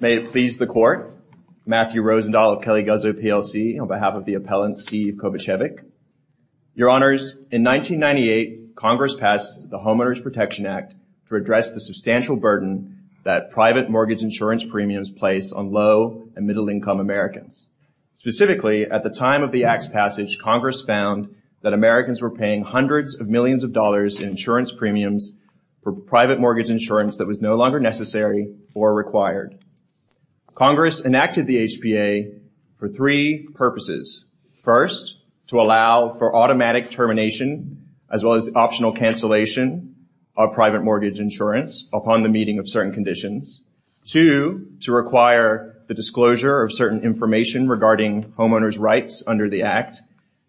May it please the Court, Matthew Rosendahl of Kelly Guzzo, PLC, on behalf of the Appellant Steve Kovachevich. Your Honors, in 1998, Congress passed the Homeowners Protection Act to address the substantial burden that private mortgage insurance premiums place on low and middle income Americans. Specifically, at the time of the Act's passage, Congress found that Americans were paying hundreds of millions of dollars in insurance premiums for private mortgage insurance that was no longer necessary or required. Congress enacted the HPA for three purposes. First, to allow for automatic termination, as well as optional cancellation, of private mortgage insurance upon the meeting of certain conditions. Two, to require the disclosure of certain information regarding homeowners' rights under the Act.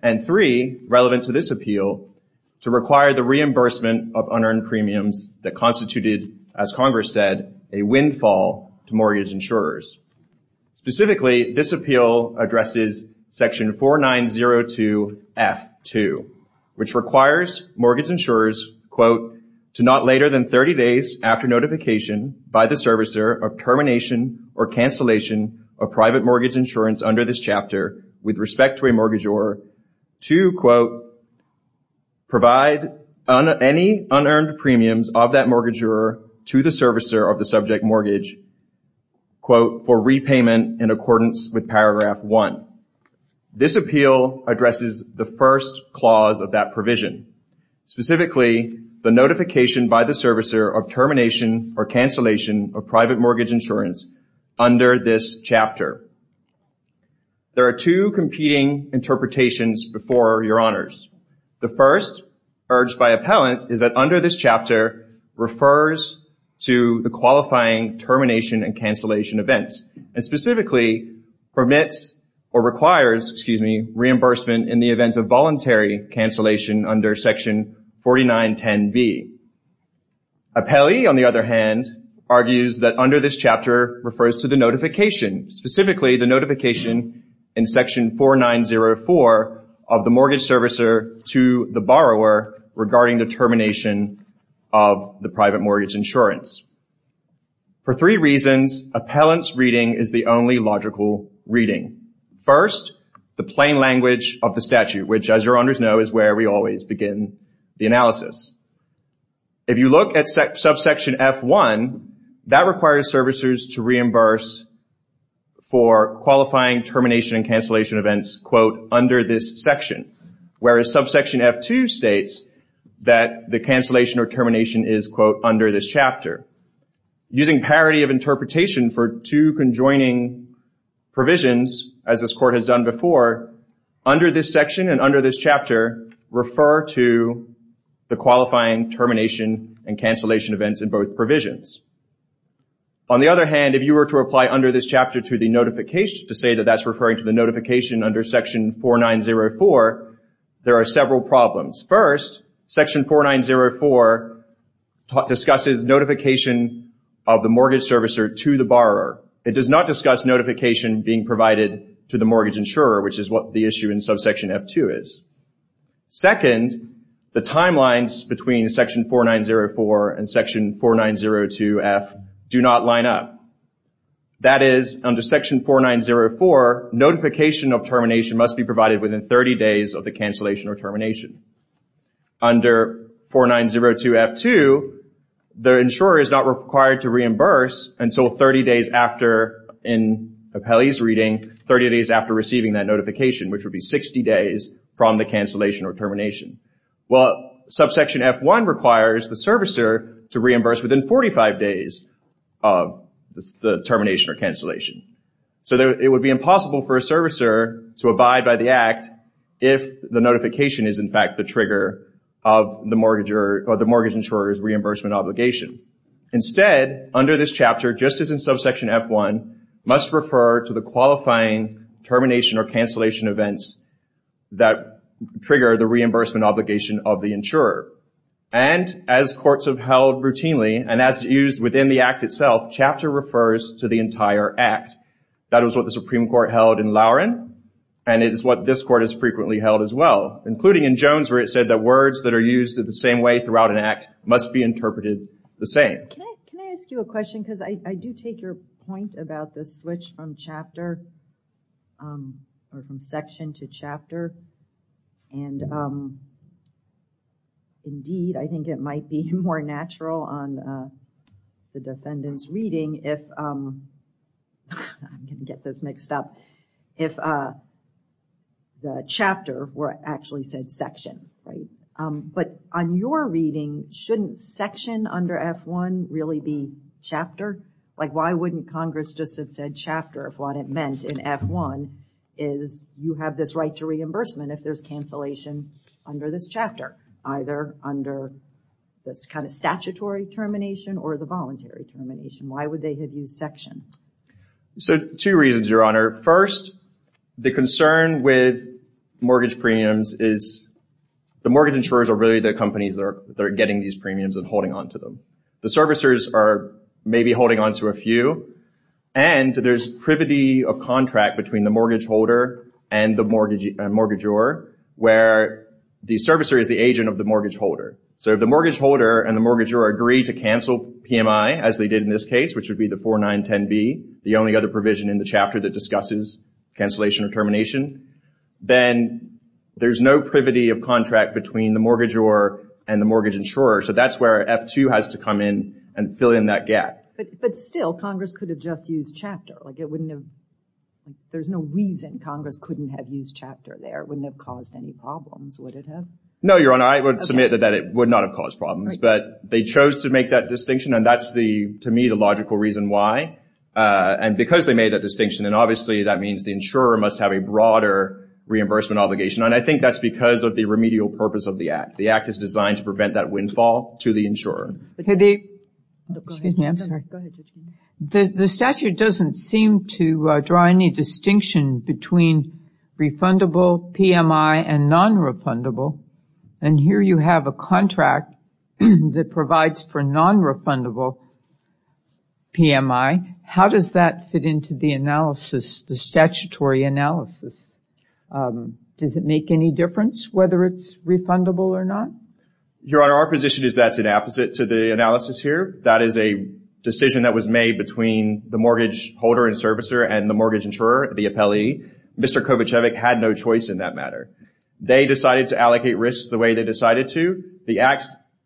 And three, relevant to this appeal, to require the reimbursement of unearned premiums that constituted, as Congress said, a windfall to mortgage insurers. Specifically, this appeal addresses Section 4902 F.2, which requires mortgage insurers, quote, to not later than 30 days after notification by the servicer of termination or cancellation of private mortgage insurance under this chapter with respect to a provide any unearned premiums of that mortgager to the servicer of the subject mortgage, quote, for repayment in accordance with Paragraph 1. This appeal addresses the first clause of that provision. Specifically, the notification by the servicer of termination or cancellation of private mortgage insurance under this chapter. There are two competing interpretations before your honors. The first, urged by appellant, is that under this chapter refers to the qualifying termination and cancellation events. And specifically, permits or requires, excuse me, reimbursement in the event of voluntary cancellation under Section 4910 B. Appellee, on the other hand, argues that under this chapter refers to the notification, specifically the notification in Section 4904 of the mortgage servicer to the borrower regarding the termination of the private mortgage insurance. For three reasons, appellant's reading is the only logical reading. First, the plain language of the statute, which as your honors know is where we always begin the analysis. If you look at Subsection F.1, that requires servicers to reimburse for qualifying termination and cancellation events, quote, under this section. Whereas Subsection F.2 states that the cancellation or termination is, quote, under this chapter. Using parity of interpretation for two conjoining provisions, as this Court has done before, under this section and under this chapter refer to the qualifying termination and cancellation events in both provisions. On the other hand, if you were to reply under this chapter to the notification, to say that that's referring to the notification under Section 4904, there are several problems. First, Section 4904 discusses notification of the mortgage servicer to the borrower. It does not discuss notification being provided to the mortgage insurer, which is what the issue in Subsection F.2 is. Second, the timelines between Section 4904 and Section 4902F do not line up. That is under Section 4904, notification of termination must be provided within 30 days of the cancellation or termination. Under 4902F.2, the insurer is not required to reimburse until 30 days after, in Apelli's reading, 30 days after receiving that notification, which would be 60 days from the cancellation or termination. Well, Subsection F.1 requires the servicer to reimburse within 45 days of the termination or cancellation. So, it would be impossible for a servicer to abide by the Act if the notification is, in fact, the trigger of the mortgage insurer's reimbursement obligation. Instead, under this chapter, just as in Subsection F.1, must refer to the qualifying termination or cancellation events that trigger the reimbursement obligation of the insurer. And, as courts have held routinely, and as used within the Act itself, chapter refers to the entire Act. That is what the Supreme Court held in Lowrin, and it is what this Court has frequently held as well, including in Jones, where it said that words that are used the same way throughout an Act must be interpreted the same. Can I ask you a question? Because I do take your point about the switch from chapter or from section to chapter, and, indeed, I think it might be more natural on the defendant's reading if, I'm going to get this mixed up, if the chapter were actually said section, right? But, on your reading, shouldn't section under F.1 really be chapter? Like, why wouldn't Congress just have said chapter if what it meant in F.1 is you have this right to reimbursement if there's cancellation under this chapter, either under this kind of statutory termination or the voluntary termination? Why would they have used section? So, two reasons, Your Honor. First, the concern with mortgage premiums is the mortgage insurers are really the companies that are getting these premiums and holding on to them. The servicers are maybe holding on to a few, and there's privity of contract between the mortgage holder and the mortgagor, where the servicer is the agent of the mortgage holder. So, if the mortgage holder and the mortgagor agree to cancel PMI, as they did in this case, which would be the 4910B, the only other provision in the chapter that discusses cancellation or termination, then there's no privity of contract between the mortgagor and the mortgage insurer. So, that's where F.2 has to come in and fill in that gap. But still, Congress could have just used chapter. Like, there's no reason Congress couldn't have used chapter there. It wouldn't have caused any problems, would it have? No, Your Honor. I would submit that it would not have caused problems, but they chose to make that distinction, and that's, to me, the logical reason why. And because they made that distinction, obviously, that means the insurer must have a broader reimbursement obligation. And I think that's because of the remedial purpose of the Act. The Act is designed to prevent that windfall to the insurer. The statute doesn't seem to draw any distinction between refundable PMI and non-refundable. And here you have a contract that provides for non-refundable PMI. How does that fit into the analysis, the statutory analysis? Does it make any difference whether it's refundable or not? Your Honor, our position is that's an opposite to the analysis here. That is a decision that was made between the mortgage holder and servicer and the mortgage insurer, the appellee. Mr. Kovacevic had no choice in that matter. They decided to allocate risks the way they decided to. The Act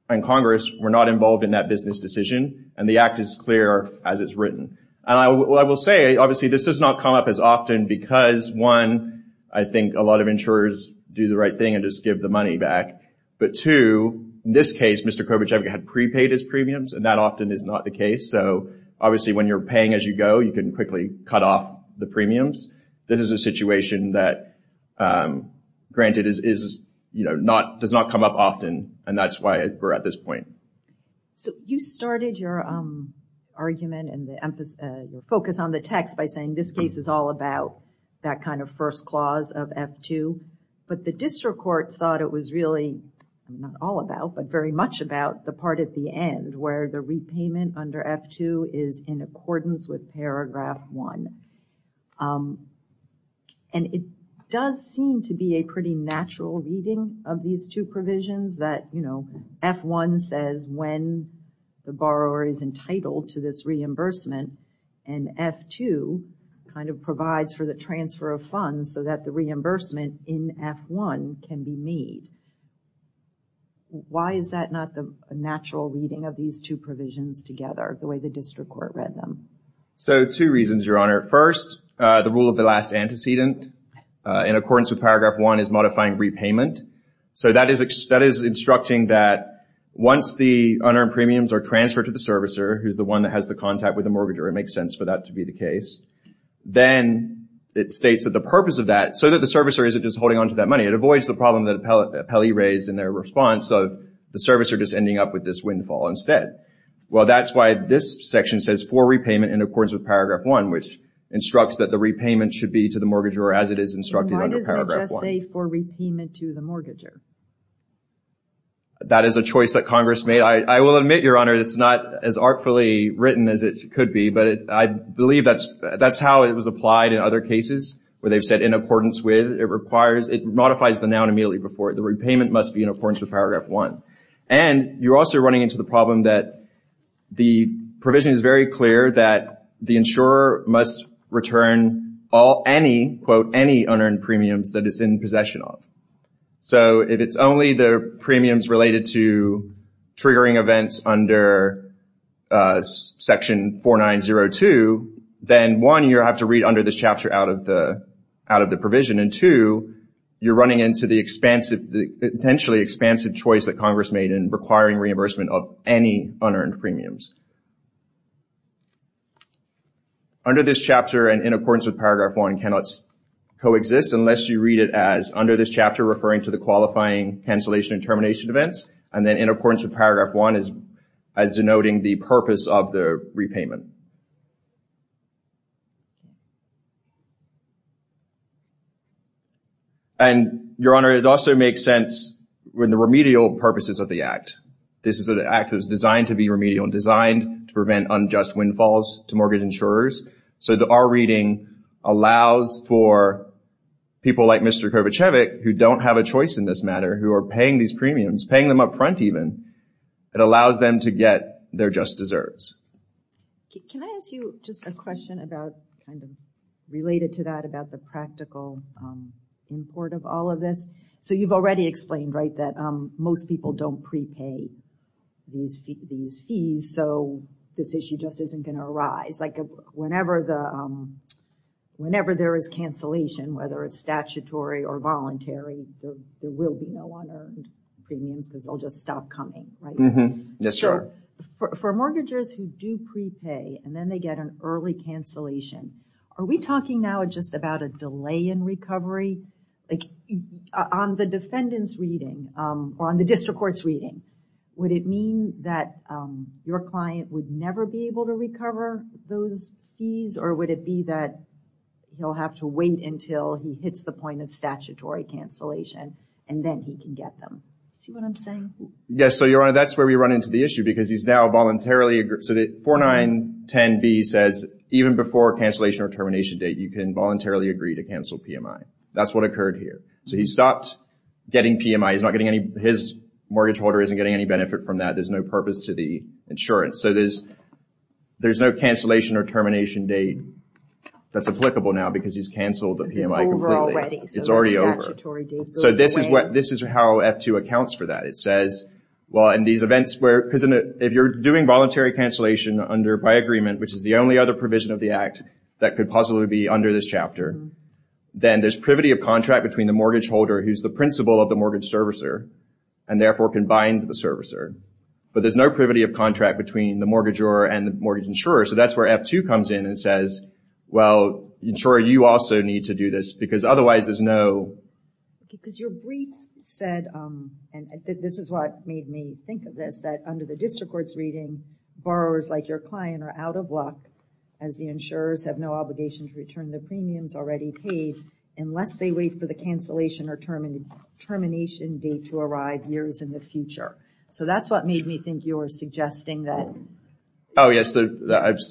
and Congress were not involved in that business decision, and the Act is clear as it's And I will say, obviously, this does not come up as often because, one, I think a lot of insurers do the right thing and just give the money back. But two, in this case, Mr. Kovacevic had prepaid his premiums, and that often is not the case. So, obviously, when you're paying as you go, you can quickly cut off the premiums. This is a situation that, granted, does not come up often, and that's why we're at this point. So, you started your argument and your focus on the text by saying this case is all about that kind of first clause of F-2, but the district court thought it was really, not all about, but very much about the part at the end where the repayment under F-2 is in accordance with paragraph one. And it does seem to be a pretty natural reading of these two provisions that, you know, F-1 says when the borrower is entitled to this reimbursement, and F-2 kind of provides for the transfer of funds so that the reimbursement in F-1 can be made. Why is that not the natural reading of these two provisions together, the way the district court read them? So, two reasons, Your Honor. First, the rule of the last antecedent, in accordance with paragraph one, is modifying repayment. So, that is instructing that once the unearned premiums are transferred to the servicer, who's the one that has the contact with the mortgagor, it makes sense for that to be the case, then it states that the purpose of that, so that the servicer isn't just holding on to that money, it avoids the problem that Pelley raised in their response of the servicer just ending up with this windfall instead. Well, that's why this section says for repayment in accordance with paragraph one, which instructs that the repayment should be to the mortgagor as it is instructed under paragraph one. Why does it just say for repayment to the mortgagor? That is a choice that Congress made. I will admit, Your Honor, it's not as artfully written as it could be, but I believe that's how it was applied in other cases, where they've said in accordance with, it requires, it modifies the noun immediately before it. The repayment must be in accordance with paragraph one. And you're also running into the problem that the provision is very clear that the insurer must return all any, quote, any unearned premiums that it's in possession of. So if it's only the premiums related to triggering events under section 4902, then one, you have to read under this chapter out of the provision, and two, you're running into the expansive, the potentially reimbursement of any unearned premiums. Under this chapter, and in accordance with paragraph one, cannot coexist unless you read it as under this chapter referring to the qualifying cancellation and termination events, and then in accordance with paragraph one as denoting the purpose of the repayment. And, Your Honor, it also makes sense when the remedial purposes of the act. This is an act that was designed to be remedial and designed to prevent unjust windfalls to mortgage insurers, so that our reading allows for people like Mr. Kravichevich, who don't have a choice in this matter, who are paying these premiums, paying them up front even, it allows them to get their just deserves. Can I ask you just a question about, kind of related to that, about the practical import of all of this. So, you've already explained, right, that most people don't prepay these fees, so this issue just isn't going to arise. Whenever there is cancellation, whether it's statutory or voluntary, there will be no unearned premiums because they'll just stop coming, right? For mortgagors who do prepay and then they get an early cancellation, are we talking now just about a delay in recovery? Like, on the defendant's reading, or on the district court's reading, would it mean that your client would never be able to recover those fees or would it be that he'll have to wait until he hits the point of statutory cancellation and then he can get them? See what I'm saying? Yes, so, Your Honor, that's where we run into the issue because he's now voluntarily So, 4910B says even before cancellation or termination date, you can voluntarily agree to cancel PMI. That's what occurred here. So, he stopped getting PMI. His mortgage holder isn't getting any benefit from that. There's no purpose to the insurance. So, there's no cancellation or termination date that's applicable now because he's cancelled the PMI completely. It's already over. So, this is how F2 accounts for that. It says, well, in these events where, if you're doing voluntary cancellation by agreement, which is the only other provision of the act that could possibly be under this chapter, then there's privity of contract between the mortgage holder, who's the principal of the mortgage servicer, and therefore can bind the servicer. But there's no privity of contract between the mortgagor and the mortgage insurer. So, that's where F2 comes in and says, well, insurer, you also need to do this because otherwise there's no... Because your briefs said, and this is what made me think of this, that under the district court's reading, borrowers like your client are out of luck as the insurers have no obligation to return the premiums already paid unless they wait for the cancellation or termination date to arrive years in the future. So, that's what made me think you were suggesting that... Oh, yes. I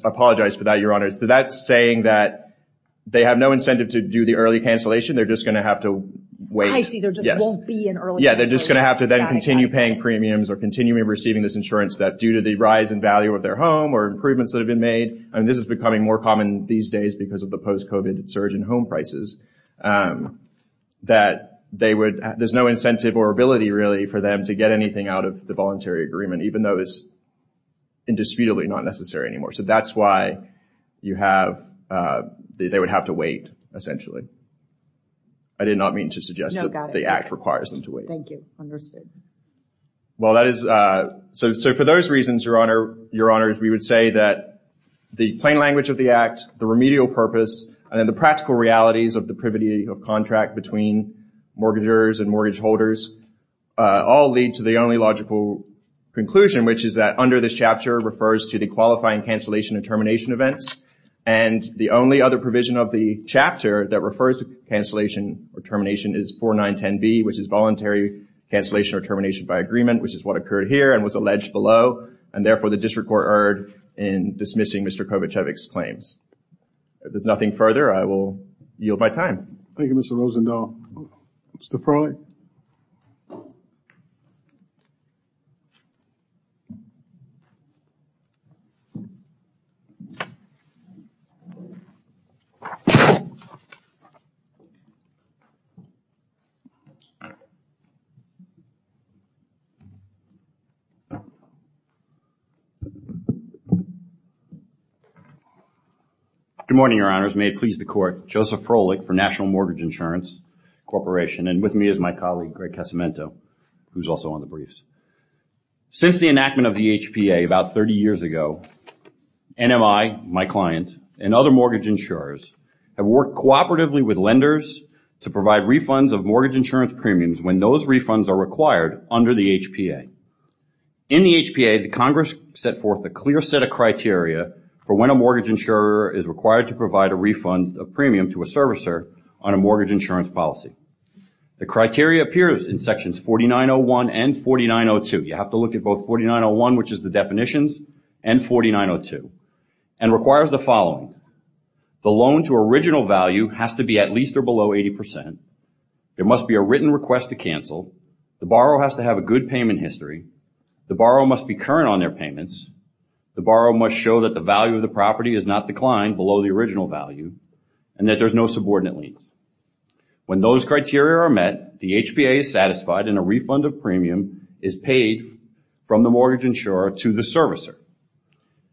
apologize for that, Your Honor. So, that's saying that they have no incentive to do the early cancellation. They're just going to have to wait. I see. There just won't be an early cancellation. Yeah. They're just going to have to then continue paying premiums or continuing receiving this insurance that due to the rise in value of their home or improvements that have been made, and this is becoming more common these days because of the post-COVID surge in home prices, that there's no incentive or ability really for them to get anything out of the voluntary agreement, even though it's indisputably not necessary anymore. So, that's why they would have to wait, essentially. I did not mean to suggest that the act requires them to wait. Thank you. Understood. So, for those reasons, Your Honor, we would say that the plain language of the act, the remedial purpose, and then the practical realities of the privity of contract between mortgagers and mortgage holders all lead to the only logical conclusion, which is that under this chapter refers to the qualifying cancellation and termination events, and the only other provision of the chapter that refers to cancellation or termination is 4910B, which is voluntary cancellation or termination by agreement, which is what occurred here and was alleged below, and therefore, the district court erred in dismissing Mr. Kovacevic's claims. If there's nothing further, I will yield my time. Thank you, Mr. Rosendahl. Mr. Farley? Good morning, Your Honors. May it please the court, Joseph Froelich for National Mortgage Insurance Corporation, and with me is my colleague, Greg Casamento, who's also on the briefs. Since the enactment of the HPA about 30 years ago, NMI, my client, and other mortgage insurers have worked cooperatively with lenders to provide refunds of mortgage insurance premiums when those refunds are required under the HPA. In the HPA, the Congress set forth a clear set of criteria for when a mortgage insurer is required to provide a refund of premium to a servicer on a mortgage insurance policy. The criteria appears in sections 4901 and 4902. You have to look at both 4901, which is the definitions, and 4902, and requires the following. The loan to original value has to be at least or below 80 percent. There must be a written request to cancel. The borrower has to have a good payment history. The borrower must be current on their payments. The borrower must show that the value of the property is not declined below the original value, and that there's no subordinate lien. When those criteria are met, the HPA is satisfied, and a refund of premium is paid from the mortgage insurer to the servicer.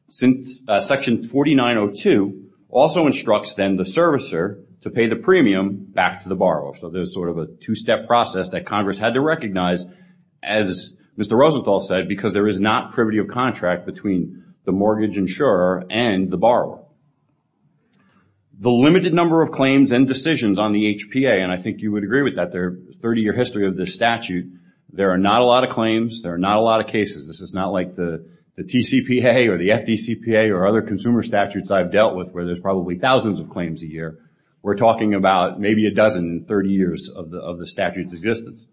Section 4902 also instructs then the servicer to pay the premium back to the borrower. So there's sort of a two-step process that Congress had to recognize, as Mr. Rosenthal said, because there is not privity of contract between the mortgage insurer and the borrower. The limited number of claims and decisions on the HPA, and I think you would agree with that, their 30-year history of this statute, there are not a lot of claims, there are not a lot of cases. This is not like the TCPA or the FDCPA or other consumer statutes I've dealt with where there's probably thousands of claims a year. We're talking about maybe a dozen in 30 years of the statute's existence.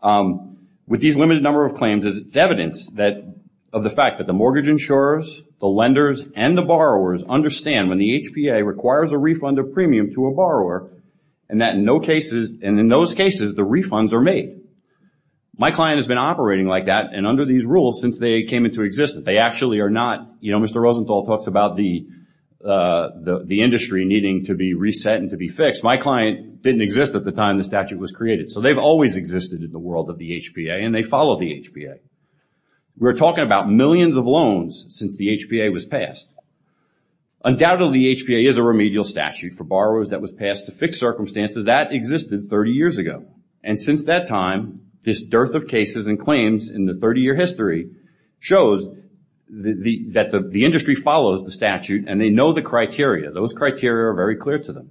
With these limited number of claims, it's evidence of the fact that the mortgage insurers, the lenders, and the borrowers understand when the HPA requires a refund of premium to a borrower, and in those cases, the refunds are made. My client has been operating like that and under these rules since they came into existence. They actually are not, Mr. Rosenthal talks about the industry needing to be reset and to be fixed. My client didn't exist at the time the statute was created. So they've always existed in the world of the HPA and they follow the HPA. We're talking about millions of loans since the HPA was passed. Undoubtedly, the HPA is a remedial statute for borrowers that was passed to fix circumstances that existed 30 years ago. And since that time, this dearth of cases and claims in the 30-year history shows that the industry follows the statute and they know the criteria. Those criteria are very clear to them.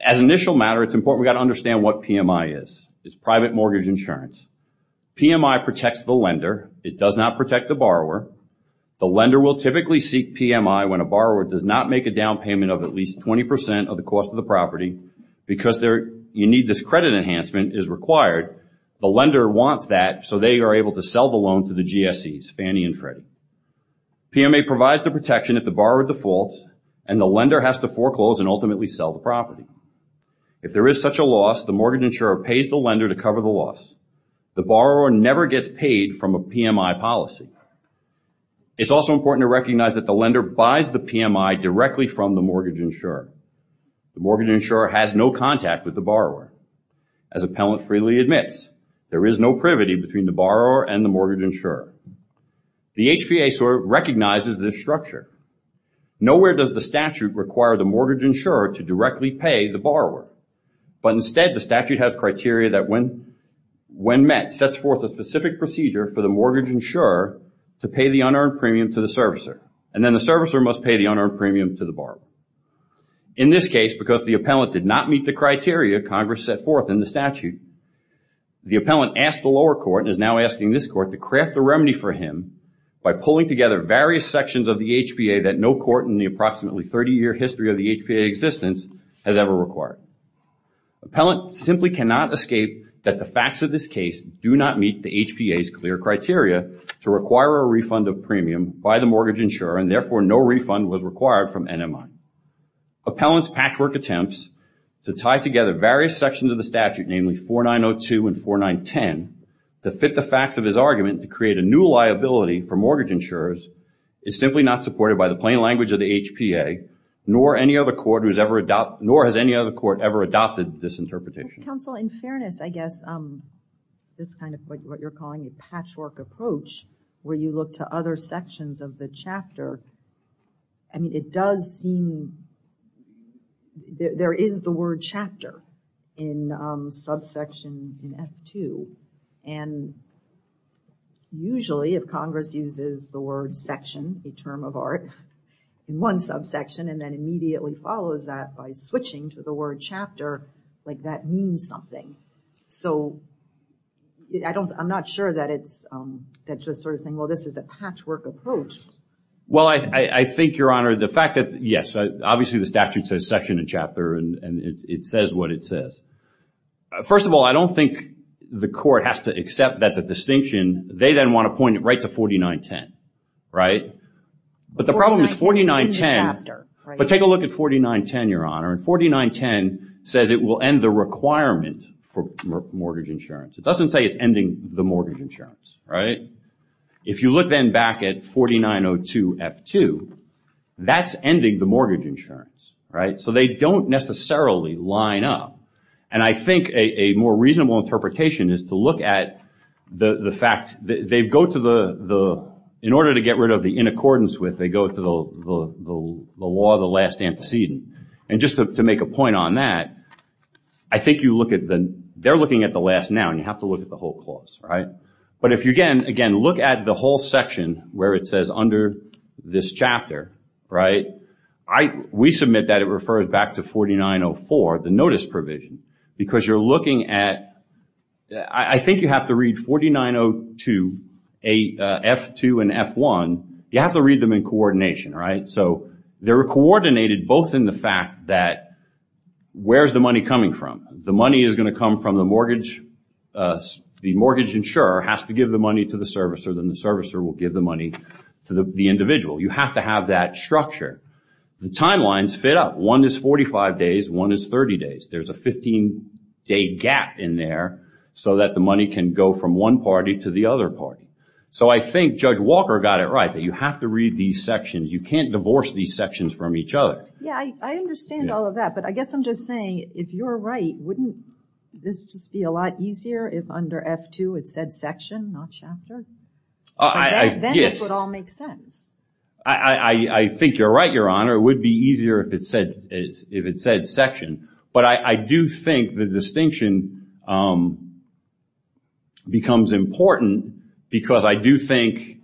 As an initial matter, it's important we've got to understand what PMI is. It's private The lender will typically seek PMI when a borrower does not make a down payment of at least 20% of the cost of the property because you need this credit enhancement is required. The lender wants that so they are able to sell the loan to the GSEs, Fannie and Freddie. PMA provides the protection if the borrower defaults and the lender has to foreclose and ultimately sell the property. If there is such a loss, the mortgage insurer pays the lender to cover the loss. The borrower never gets paid from a PMI policy. It's also important to recognize that the lender buys the PMI directly from the mortgage insurer. The mortgage insurer has no contact with the borrower. As appellant freely admits, there is no privity between the borrower and the mortgage insurer. The HPA recognizes this structure. Nowhere does the statute require the mortgage insurer to directly pay the borrower. But instead, the statute has criteria that when met, sets forth a specific procedure for the mortgage insurer to pay the unearned premium to the servicer. And then the servicer must pay the unearned premium to the borrower. In this case, because the appellant did not meet the criteria Congress set forth in the statute, the appellant asked the lower court and is now asking this court to craft the remedy for him by pulling together various sections of the HPA that no court in the approximately 30-year history of the HPA existence has ever required. Appellant simply cannot escape that the facts of this case do not meet the HPA's clear criteria to require a refund of premium by the mortgage insurer and therefore no refund was required from NMI. Appellant's patchwork attempts to tie together various sections of the statute, namely 4902 and 4910, to fit the facts of his argument to create a new liability for mortgage insurers, is simply not supported by the plain language of the HPA, nor has any other court ever adopted this interpretation. Counsel, in fairness, I guess this kind of what you're calling a patchwork approach where you look to other sections of the chapter, I mean, it does seem there is the word chapter in subsection in F2 and usually if Congress uses the word section, a term of art, in one subsection and then immediately follows that by switching to the word chapter, like that means something. So, I'm not sure that it's, that's just sort of saying, well, this is a patchwork approach. Well, I think, Your Honor, the fact that, yes, obviously the statute says section and chapter and it says what it says. First of all, I don't think the court has to accept that the distinction, they then want to point it right to 4910, right? But the problem is 4910, but take a look at 4910, Your Honor, and 4910 says it will end the requirement for mortgage insurance. It doesn't say it's ending the mortgage insurance, right? If you look then back at 4902 F2, that's ending the mortgage insurance, right? So, they don't necessarily line up and I think a more reasonable interpretation is to look at the fact, they go to the, in order to get rid of the in accordance with, they go to the law of the last antecedent and just to make a point on that, I think you look at the, they're looking at the last now and you have to look at the whole clause, right? But if you, again, look at the whole section where it says under this chapter, right? We submit that it refers back to 4904, the notice provision, because you're looking at, I think you have to read 4902 F2 and F1, you have to read them in coordination, right? So, they're coordinated both in the fact that where's the money coming from? The money is going to come from the mortgage, the mortgage insurer has to give the money to the servicer, then the servicer will give the money to the individual. You have to have that structure. The timelines fit up. One is 45 days, one is 30 days. There's a 15 day gap in there so that the money can go from one party to the other party. So, I think Judge Walker got it right, that you have to read these sections. You can't divorce these sections from each other. Yeah, I understand all of that, but I guess I'm just saying, if you're right, wouldn't this just be a lot easier if under F2 it said section, not chapter? Then this would all make sense. I think you're right, Your Honor. It would be easier if it said section, but I do think the distinction becomes important because I do think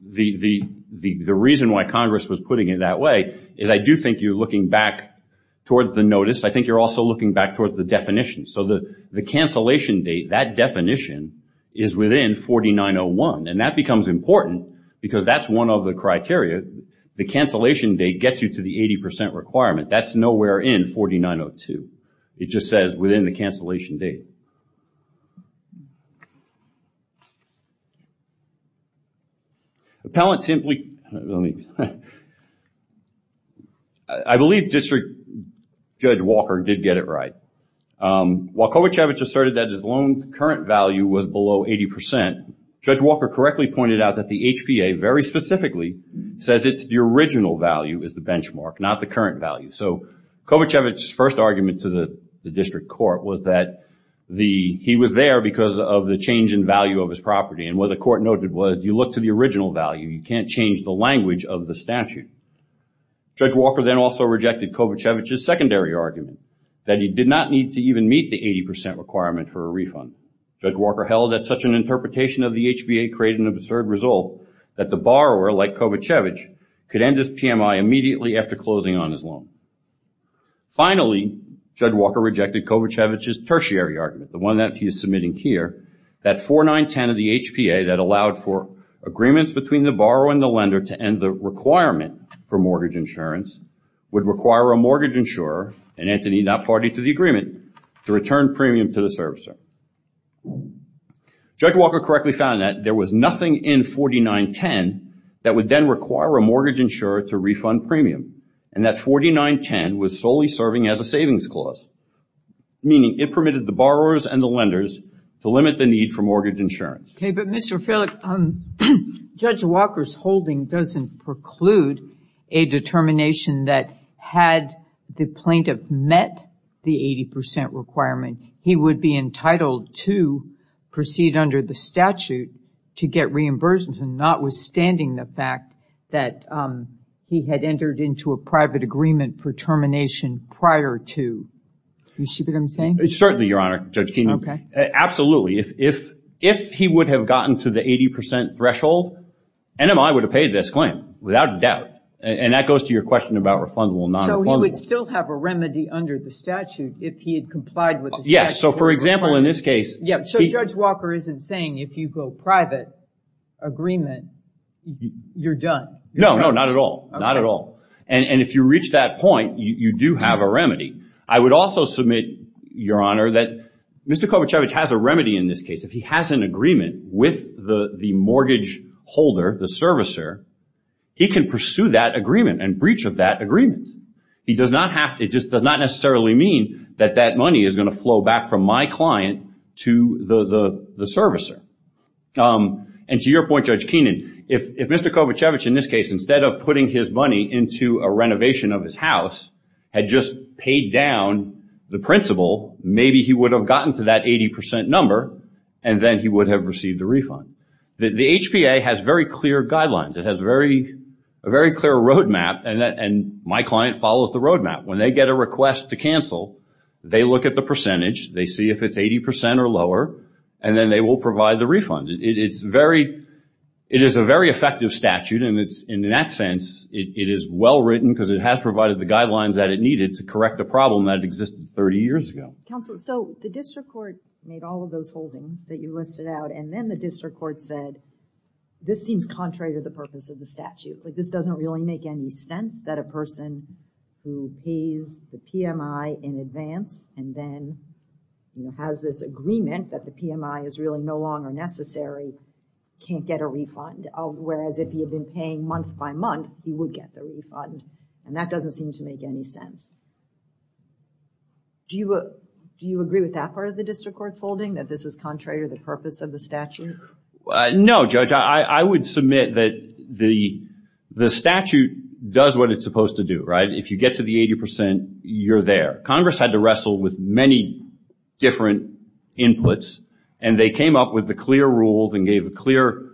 the reason why Congress was putting it that way is I do think you're looking back toward the notice. I think you're also looking back toward the definition. So, the cancellation date, that definition is within 4901 and that becomes important because that's one of the criteria. The cancellation date gets you to the 80% requirement. That's nowhere in 4902. It just says within the cancellation date. I believe District Judge Walker did get it right. While Kovacevic asserted that his loan current value was below 80%, Judge Walker correctly pointed out that the HPA, very specifically, says it's the original value is the benchmark, not the current value. So, Kovacevic's first argument to the District Court was that he was there because of the change in value of his property. What the court noted was you look to the original value. You can't change the language of the statute. Judge Walker then also rejected Kovacevic's secondary argument that he did not need to even meet the 80% requirement for a refund. Judge Walker held that such an interpretation of the HPA created an absurd result that the borrower, like Kovacevic, could end his PMI immediately after closing on his loan. Finally, Judge Walker rejected Kovacevic's tertiary argument, the one that he is submitting here, that 4910 of the HPA that allowed for agreements between the borrower and the lender to end the requirement for mortgage insurance would require a mortgage insurer, and Anthony not party to the agreement, to return premium to the servicer. Judge Walker correctly found that there was nothing in 4910 that would then require a mortgage insurer to refund premium, and that 4910 was solely serving as a savings clause, meaning it permitted the borrowers and the lenders to limit the need for mortgage insurance. Okay, but Mr. Felix, Judge Walker's holding doesn't preclude a determination that had the plaintiff met the 80% requirement, he would be entitled to proceed under the statute to get reimbursement, notwithstanding the fact that he had entered into a private agreement for termination prior to, do you see what I'm saying? Certainly, Your Honor, Judge Keenan, absolutely. If he would have gotten to the 80% threshold, NMI would have paid this claim, without a doubt, and that goes to your question about refundable and non-refundable. So he would still have a remedy under the statute if he had complied with the statute? Yes, so for example, in this case... So Judge Walker isn't saying if you go private agreement, you're done? No, no, not at all, not at all. And if you reach that point, you do have a remedy. I would also submit, Your Honor, that Mr. Kovacevic has a remedy in this case. If he has an agreement with the mortgage holder, the servicer, he can pursue that agreement and breach of that agreement. It just does not necessarily mean that that money is going to flow back from my client to the servicer. And to your point, Judge Keenan, if Mr. Kovacevic, in this case, instead of putting his money into a renovation of his house, had just paid down the principal, maybe he would have gotten to that 80% number, and then he would have received a refund. The HPA has very clear guidelines. It has a very clear roadmap, and my client follows the roadmap. When they get a request to cancel, they look at the percentage, they see if it's 80% or lower, and then they will provide the refund. It is a very effective statute, and in that sense, it is well-written because it has provided the guidelines that it needed to correct a problem that existed 30 years ago. Counsel, so the district court made all of those holdings that you listed out, and then the district court said, this seems contrary to the purpose of the statute. This doesn't really make any sense that a person who pays the PMI in advance and then has this agreement that the PMI is really no longer necessary can't get a refund, whereas if he had been paying month by month, he would get the refund. And that doesn't seem to make any sense. Do you agree with that part of the district court's holding, that this is contrary to the purpose of the statute? No, Judge. I would submit that the statute does what it's supposed to do. If you get to the 80%, you're there. Congress had to wrestle with many different inputs, and they came up with the clear rules and gave a clear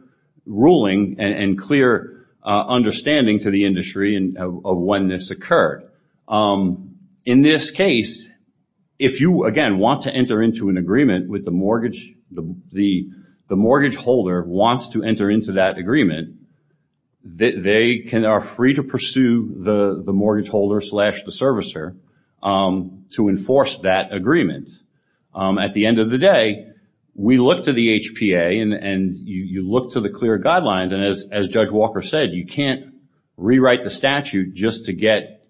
ruling and clear understanding to the industry of when this occurred. In this case, if you, again, want to enter into an agreement with the mortgage holder wants to enter into that agreement, they are free to pursue the mortgage holder slash the servicer to enforce that agreement. At the end of the day, we look to the HPA, and you look to the clear guidelines, and as Judge Walker said, you can't rewrite the statute just to get,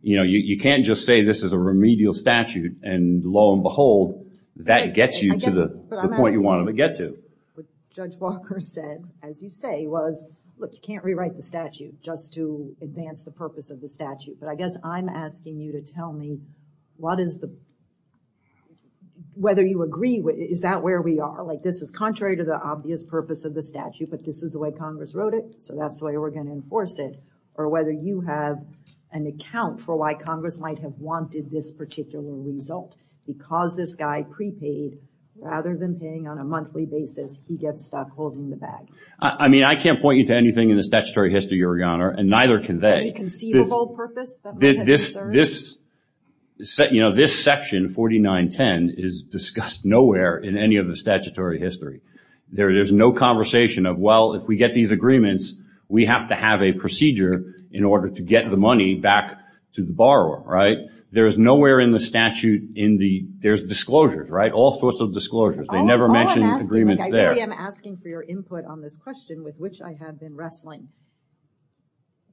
you can't just say this is a remedial statute, and lo and behold, that gets you to the point you wanted to get to. Judge Walker said, as you say, was, look, you can't rewrite the statute just to advance the purpose of the statute. But I guess I'm asking you to tell me what is the, whether you agree, is that where we are? Like, this is contrary to the obvious purpose of the statute, but this is the way Congress wrote it, so that's the way we're going to enforce it. Or whether you have an account for why Congress might have wanted this particular result. Because this guy prepaid, rather than paying on a monthly basis, he gets stuck holding the bag. I mean, I can't point you to anything in the statutory history, Your Honor, and neither can they. Any conceivable purpose that might have been served? This section, 4910, is discussed nowhere in any of the statutory history. There is no conversation of, well, if we get these agreements, we have to have a procedure in order to get the money back to the borrower, right? There's nowhere in the statute in the, there's disclosures, right? All sorts of disclosures. They never mention agreements there. All I'm asking, like, I really am asking for your input on this question, with which I have been wrestling.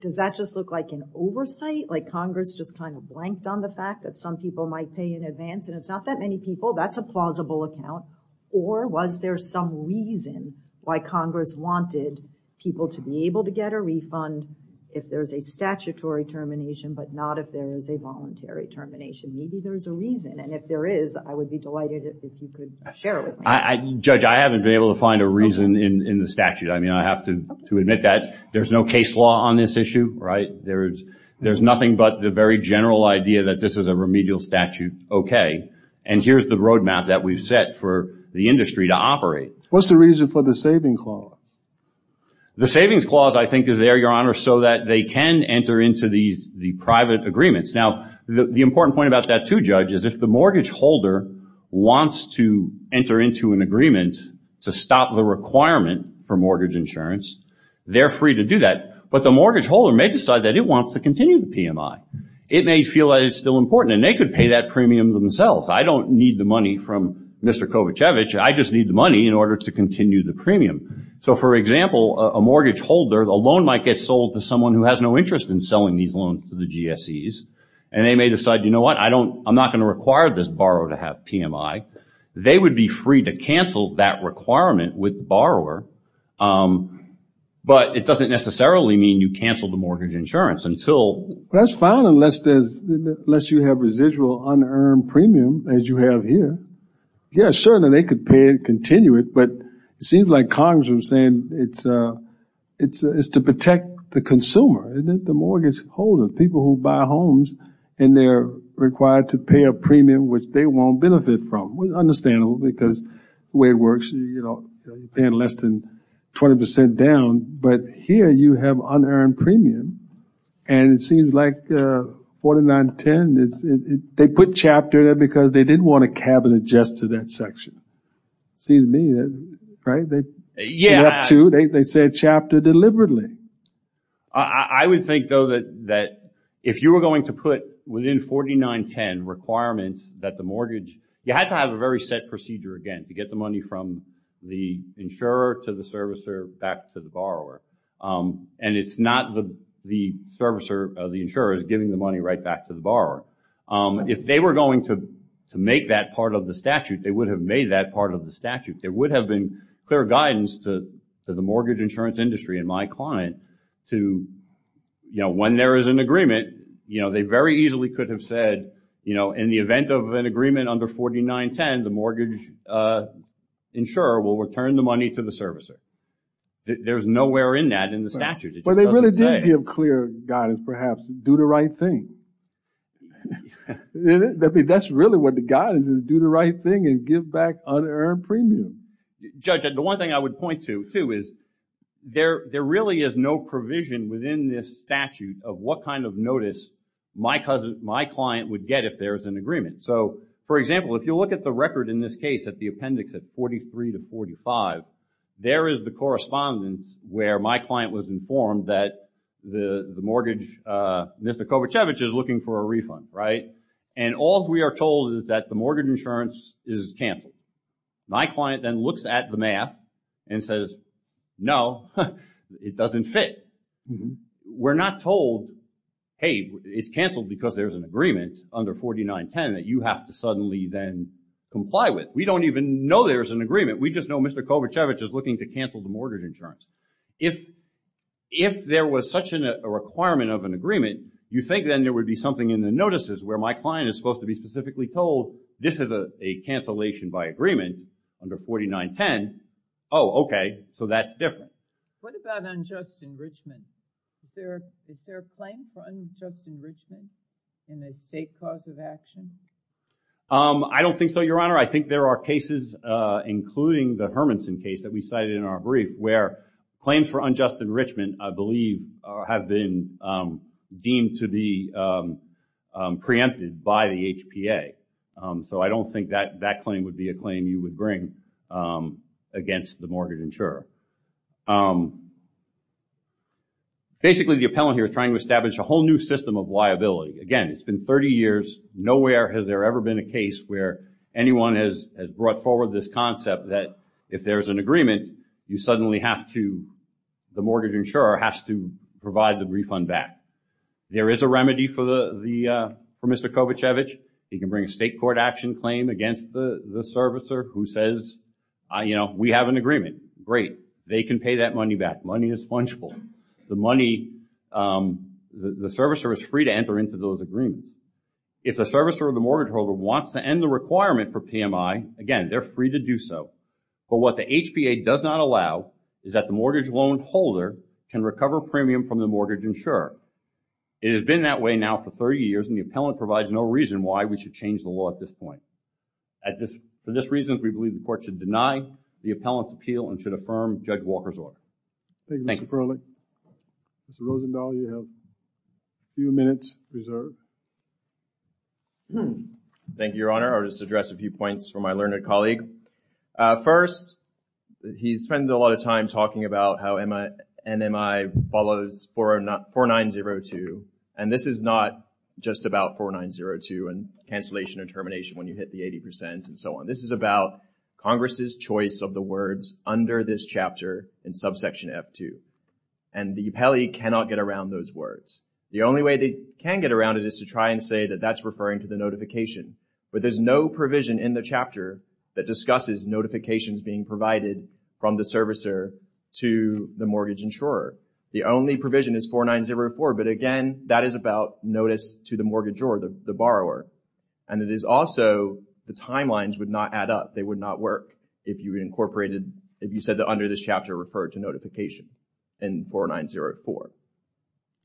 Does that just look like an oversight? Like Congress just kind of blanked on the fact that some people might pay in advance, and it's not that many people. That's a plausible account. Or was there some reason why Congress wanted people to be able to get a refund if there's a statutory termination, but not if there is a voluntary termination? Maybe there's a reason, and if there is, I would be delighted if you could share it with me. Judge, I haven't been able to find a reason in the statute. I mean, I have to admit that there's no case law on this issue, right? There's nothing but the very general idea that this is a remedial statute. Okay. And here's the roadmap that we've set for the industry to operate. What's the reason for the savings clause? The savings clause, I think, is there, Your Honor, so that they can enter into the private agreements. Now, the important point about that, too, Judge, is if the mortgage holder wants to enter into an agreement to stop the requirement for mortgage insurance, they're free to do that. But the mortgage holder may decide that it wants to continue the PMI. It may feel that it's still important, and they could pay that premium themselves. I don't need the money from Mr. Kovacevic. I just need the money in order to continue the premium. So, for example, a mortgage holder, a loan might get sold to someone who has no interest in selling these loans to the GSEs, and they may decide, you know what, I'm not going to require this borrower to have PMI. They would be free to cancel that requirement with the borrower, but it doesn't necessarily mean you cancel the mortgage insurance until – That's fine unless you have residual unearned premium, as you have here. Yes, certainly they could pay it and continue it, but it seems like Congress is saying it's to protect the consumer, the mortgage holder, people who buy homes and they're required to pay a premium which they won't benefit from. It's understandable because the way it works, you're paying less than 20 percent down, but here you have unearned premium, and it seems like 49 to 10, they put chapter there because they didn't want a cabinet just to that section. See what I mean, right? They left two, they said chapter deliberately. I would think though that if you were going to put within 49 to 10 requirements that the mortgage – you have to have a very set procedure again to get the money from the insurer to the servicer back to the borrower, and it's not the servicer or the insurer giving the money right back to the borrower. If they were going to make that part of the statute, they would have made that part of the statute. There would have been clear guidance to the mortgage insurance industry and my client to – when there is an agreement, they very easily could have said in the event of an agreement under 49 to 10, the mortgage insurer will return the money to the servicer. There's nowhere in that in the statute. But they really did give clear guidance perhaps, do the right thing. That's really what the guidance is, do the right thing and give back unearned premium. Judge, the one thing I would point to too is there really is no provision within this statute of what kind of notice my client would get if there is an agreement. So for example, if you look at the record in this case at the appendix at 43 to 45, there is the correspondence where my client was informed that the mortgage, Mr. Kovacevic is looking for a refund, right? And all we are told is that the mortgage insurance is canceled. My client then looks at the math and says, no, it doesn't fit. We're not told, hey, it's canceled because there's an agreement under 49 to 10 that you have to suddenly then comply with. We don't even know there's an agreement. We just know Mr. Kovacevic is looking to cancel the mortgage insurance. If there was such a requirement of an agreement, you think then there would be something in the notices where my client is supposed to be specifically told this is a cancellation by agreement under 49, 10. Oh, okay. So that's different. What about unjust enrichment? Is there a claim for unjust enrichment in a state cause of action? I don't think so, Your Honor. I think there are cases including the Hermanson case that we cited in our brief where claims for unjust enrichment, I believe, have been deemed to be preempted by the HPA. So I don't think that that claim would be a claim you would bring against the mortgage insurer. Basically, the appellant here is trying to establish a whole new system of liability. Again, it's been 30 years. Nowhere has there ever been a case where anyone has brought forward this concept that if there's an agreement, you suddenly have to, the mortgage insurer has to provide the refund back. There is a remedy for Mr. Kovacevic. He can bring a state court action claim against the servicer who says, we have an agreement. Great. They can pay that money back. Money is fungible. The money, the servicer is free to enter into those agreements. If the servicer or the mortgage holder wants to end the requirement for PMI, again, they're free to do so. But what the HPA does not allow is that the mortgage loan holder can recover premium from the mortgage insurer. It has been that way now for 30 years and the appellant provides no reason why we should change the law at this point. For this reason, we believe the court should deny the appellant's appeal and should affirm Judge Walker's order. Thank you, Mr. Perley. Mr. Rosenthal, you have a few minutes reserved. Thank you, Your Honor. I'll just address a few points from my learned colleague. First, he spends a lot of time talking about how NMI follows 4902 and this is not just about 4902 and cancellation or termination when you hit the 80% and so on. This is about Congress's choice of the words under this chapter in subsection F2. And the appellee cannot get around those words. The only way they can get around it is to try and say that that's referring to the notification. But there's no provision in the chapter that discusses notifications being provided from the servicer to the mortgage insurer. The only provision is 4904, but again, that is about notice to the mortgage or the borrower. And it is also the timelines would not add up. They would not work if you incorporated, if you said that under this chapter referred to notification in 4904.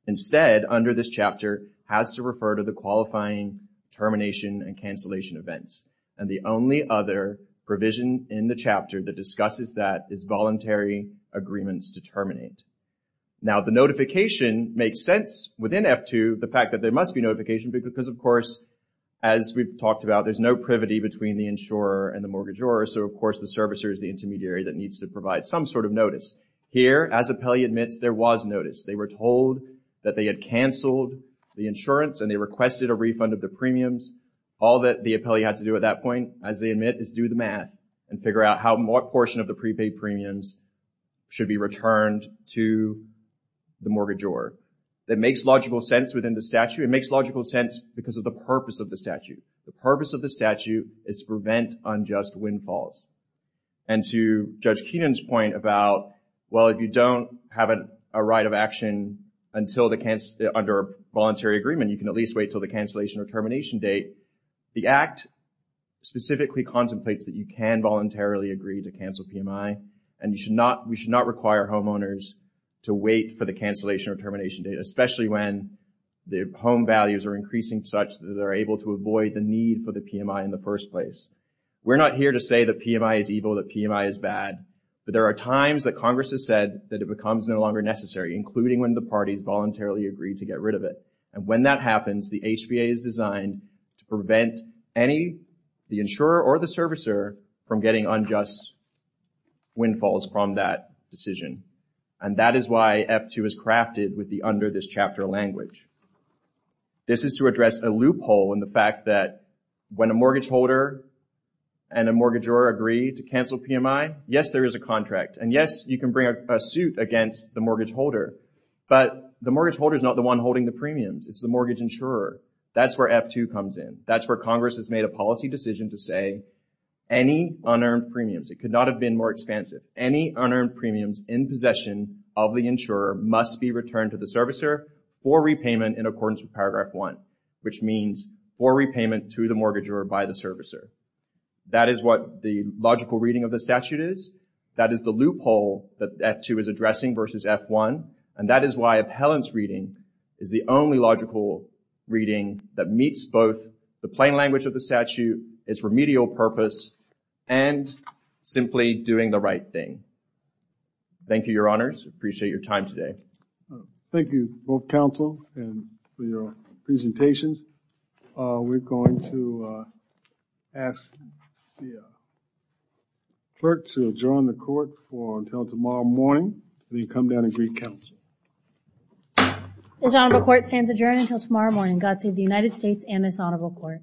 Instead, under this chapter has to refer to the qualifying termination and cancellation events. And the only other provision in the chapter that discusses that is voluntary agreements to terminate. Now the notification makes sense within F2, the fact that there must be notification because of course, as we've talked about, there's no privity between the insurer and the mortgagor. So of course, the servicer is the intermediary that needs to provide some sort of notice. Here, as appellee admits, there was notice. They were told that they had canceled the insurance and they requested a refund of the premiums. All that the appellee had to do at that point, as they admit, is do the math and figure out how more portion of the prepaid premiums should be returned to the mortgagor. That makes logical sense within the statute. It makes logical sense because of the purpose of the statute. The purpose of the statute is to prevent unjust windfalls. And to Judge Keenan's point about, well, if you don't have a right of action until the, under voluntary agreement, you can at least wait until the cancellation or termination date, the Act specifically contemplates that you can voluntarily agree to cancel PMI. And you should not, we should not require homeowners to wait for the cancellation or termination date, especially when the home values are increasing such that they're able to avoid the need for the PMI in the first place. We're not here to say that PMI is evil, that PMI is bad, but there are times that Congress has said that it becomes no longer necessary, including when the parties voluntarily agree to get rid of it. And when that happens, the HBA is designed to prevent any, the insurer or the servicer, from getting unjust windfalls from that decision. And that is why F-2 is crafted with the under this chapter language. This is to address a loophole in the fact that when a mortgage holder and a mortgagor agree to cancel PMI, yes, there is a contract. And yes, you can bring a suit against the mortgage holder, but the mortgage holder is not the one holding the premiums. It's the mortgage insurer. That's where F-2 comes in. That's where Congress has made a policy decision to say any unearned premiums, it could not have been more expansive, any unearned premiums in possession of the insurer must be returned to the servicer for repayment in accordance with paragraph one, which means for repayment to the mortgagor by the servicer. That is what the logical reading of the statute is. That is the loophole that F-2 is addressing versus F-1. And that is why appellant's reading is the only logical reading that meets both the plain language of the statute, its remedial purpose, and simply doing the right thing. Thank you, your honors. I appreciate your time today. Thank you, both counsel and for your presentations. We're going to ask the clerk to adjourn the court for until tomorrow morning. Then come down and greet counsel. This honorable court stands adjourned until tomorrow morning. God save the United States and this honorable court.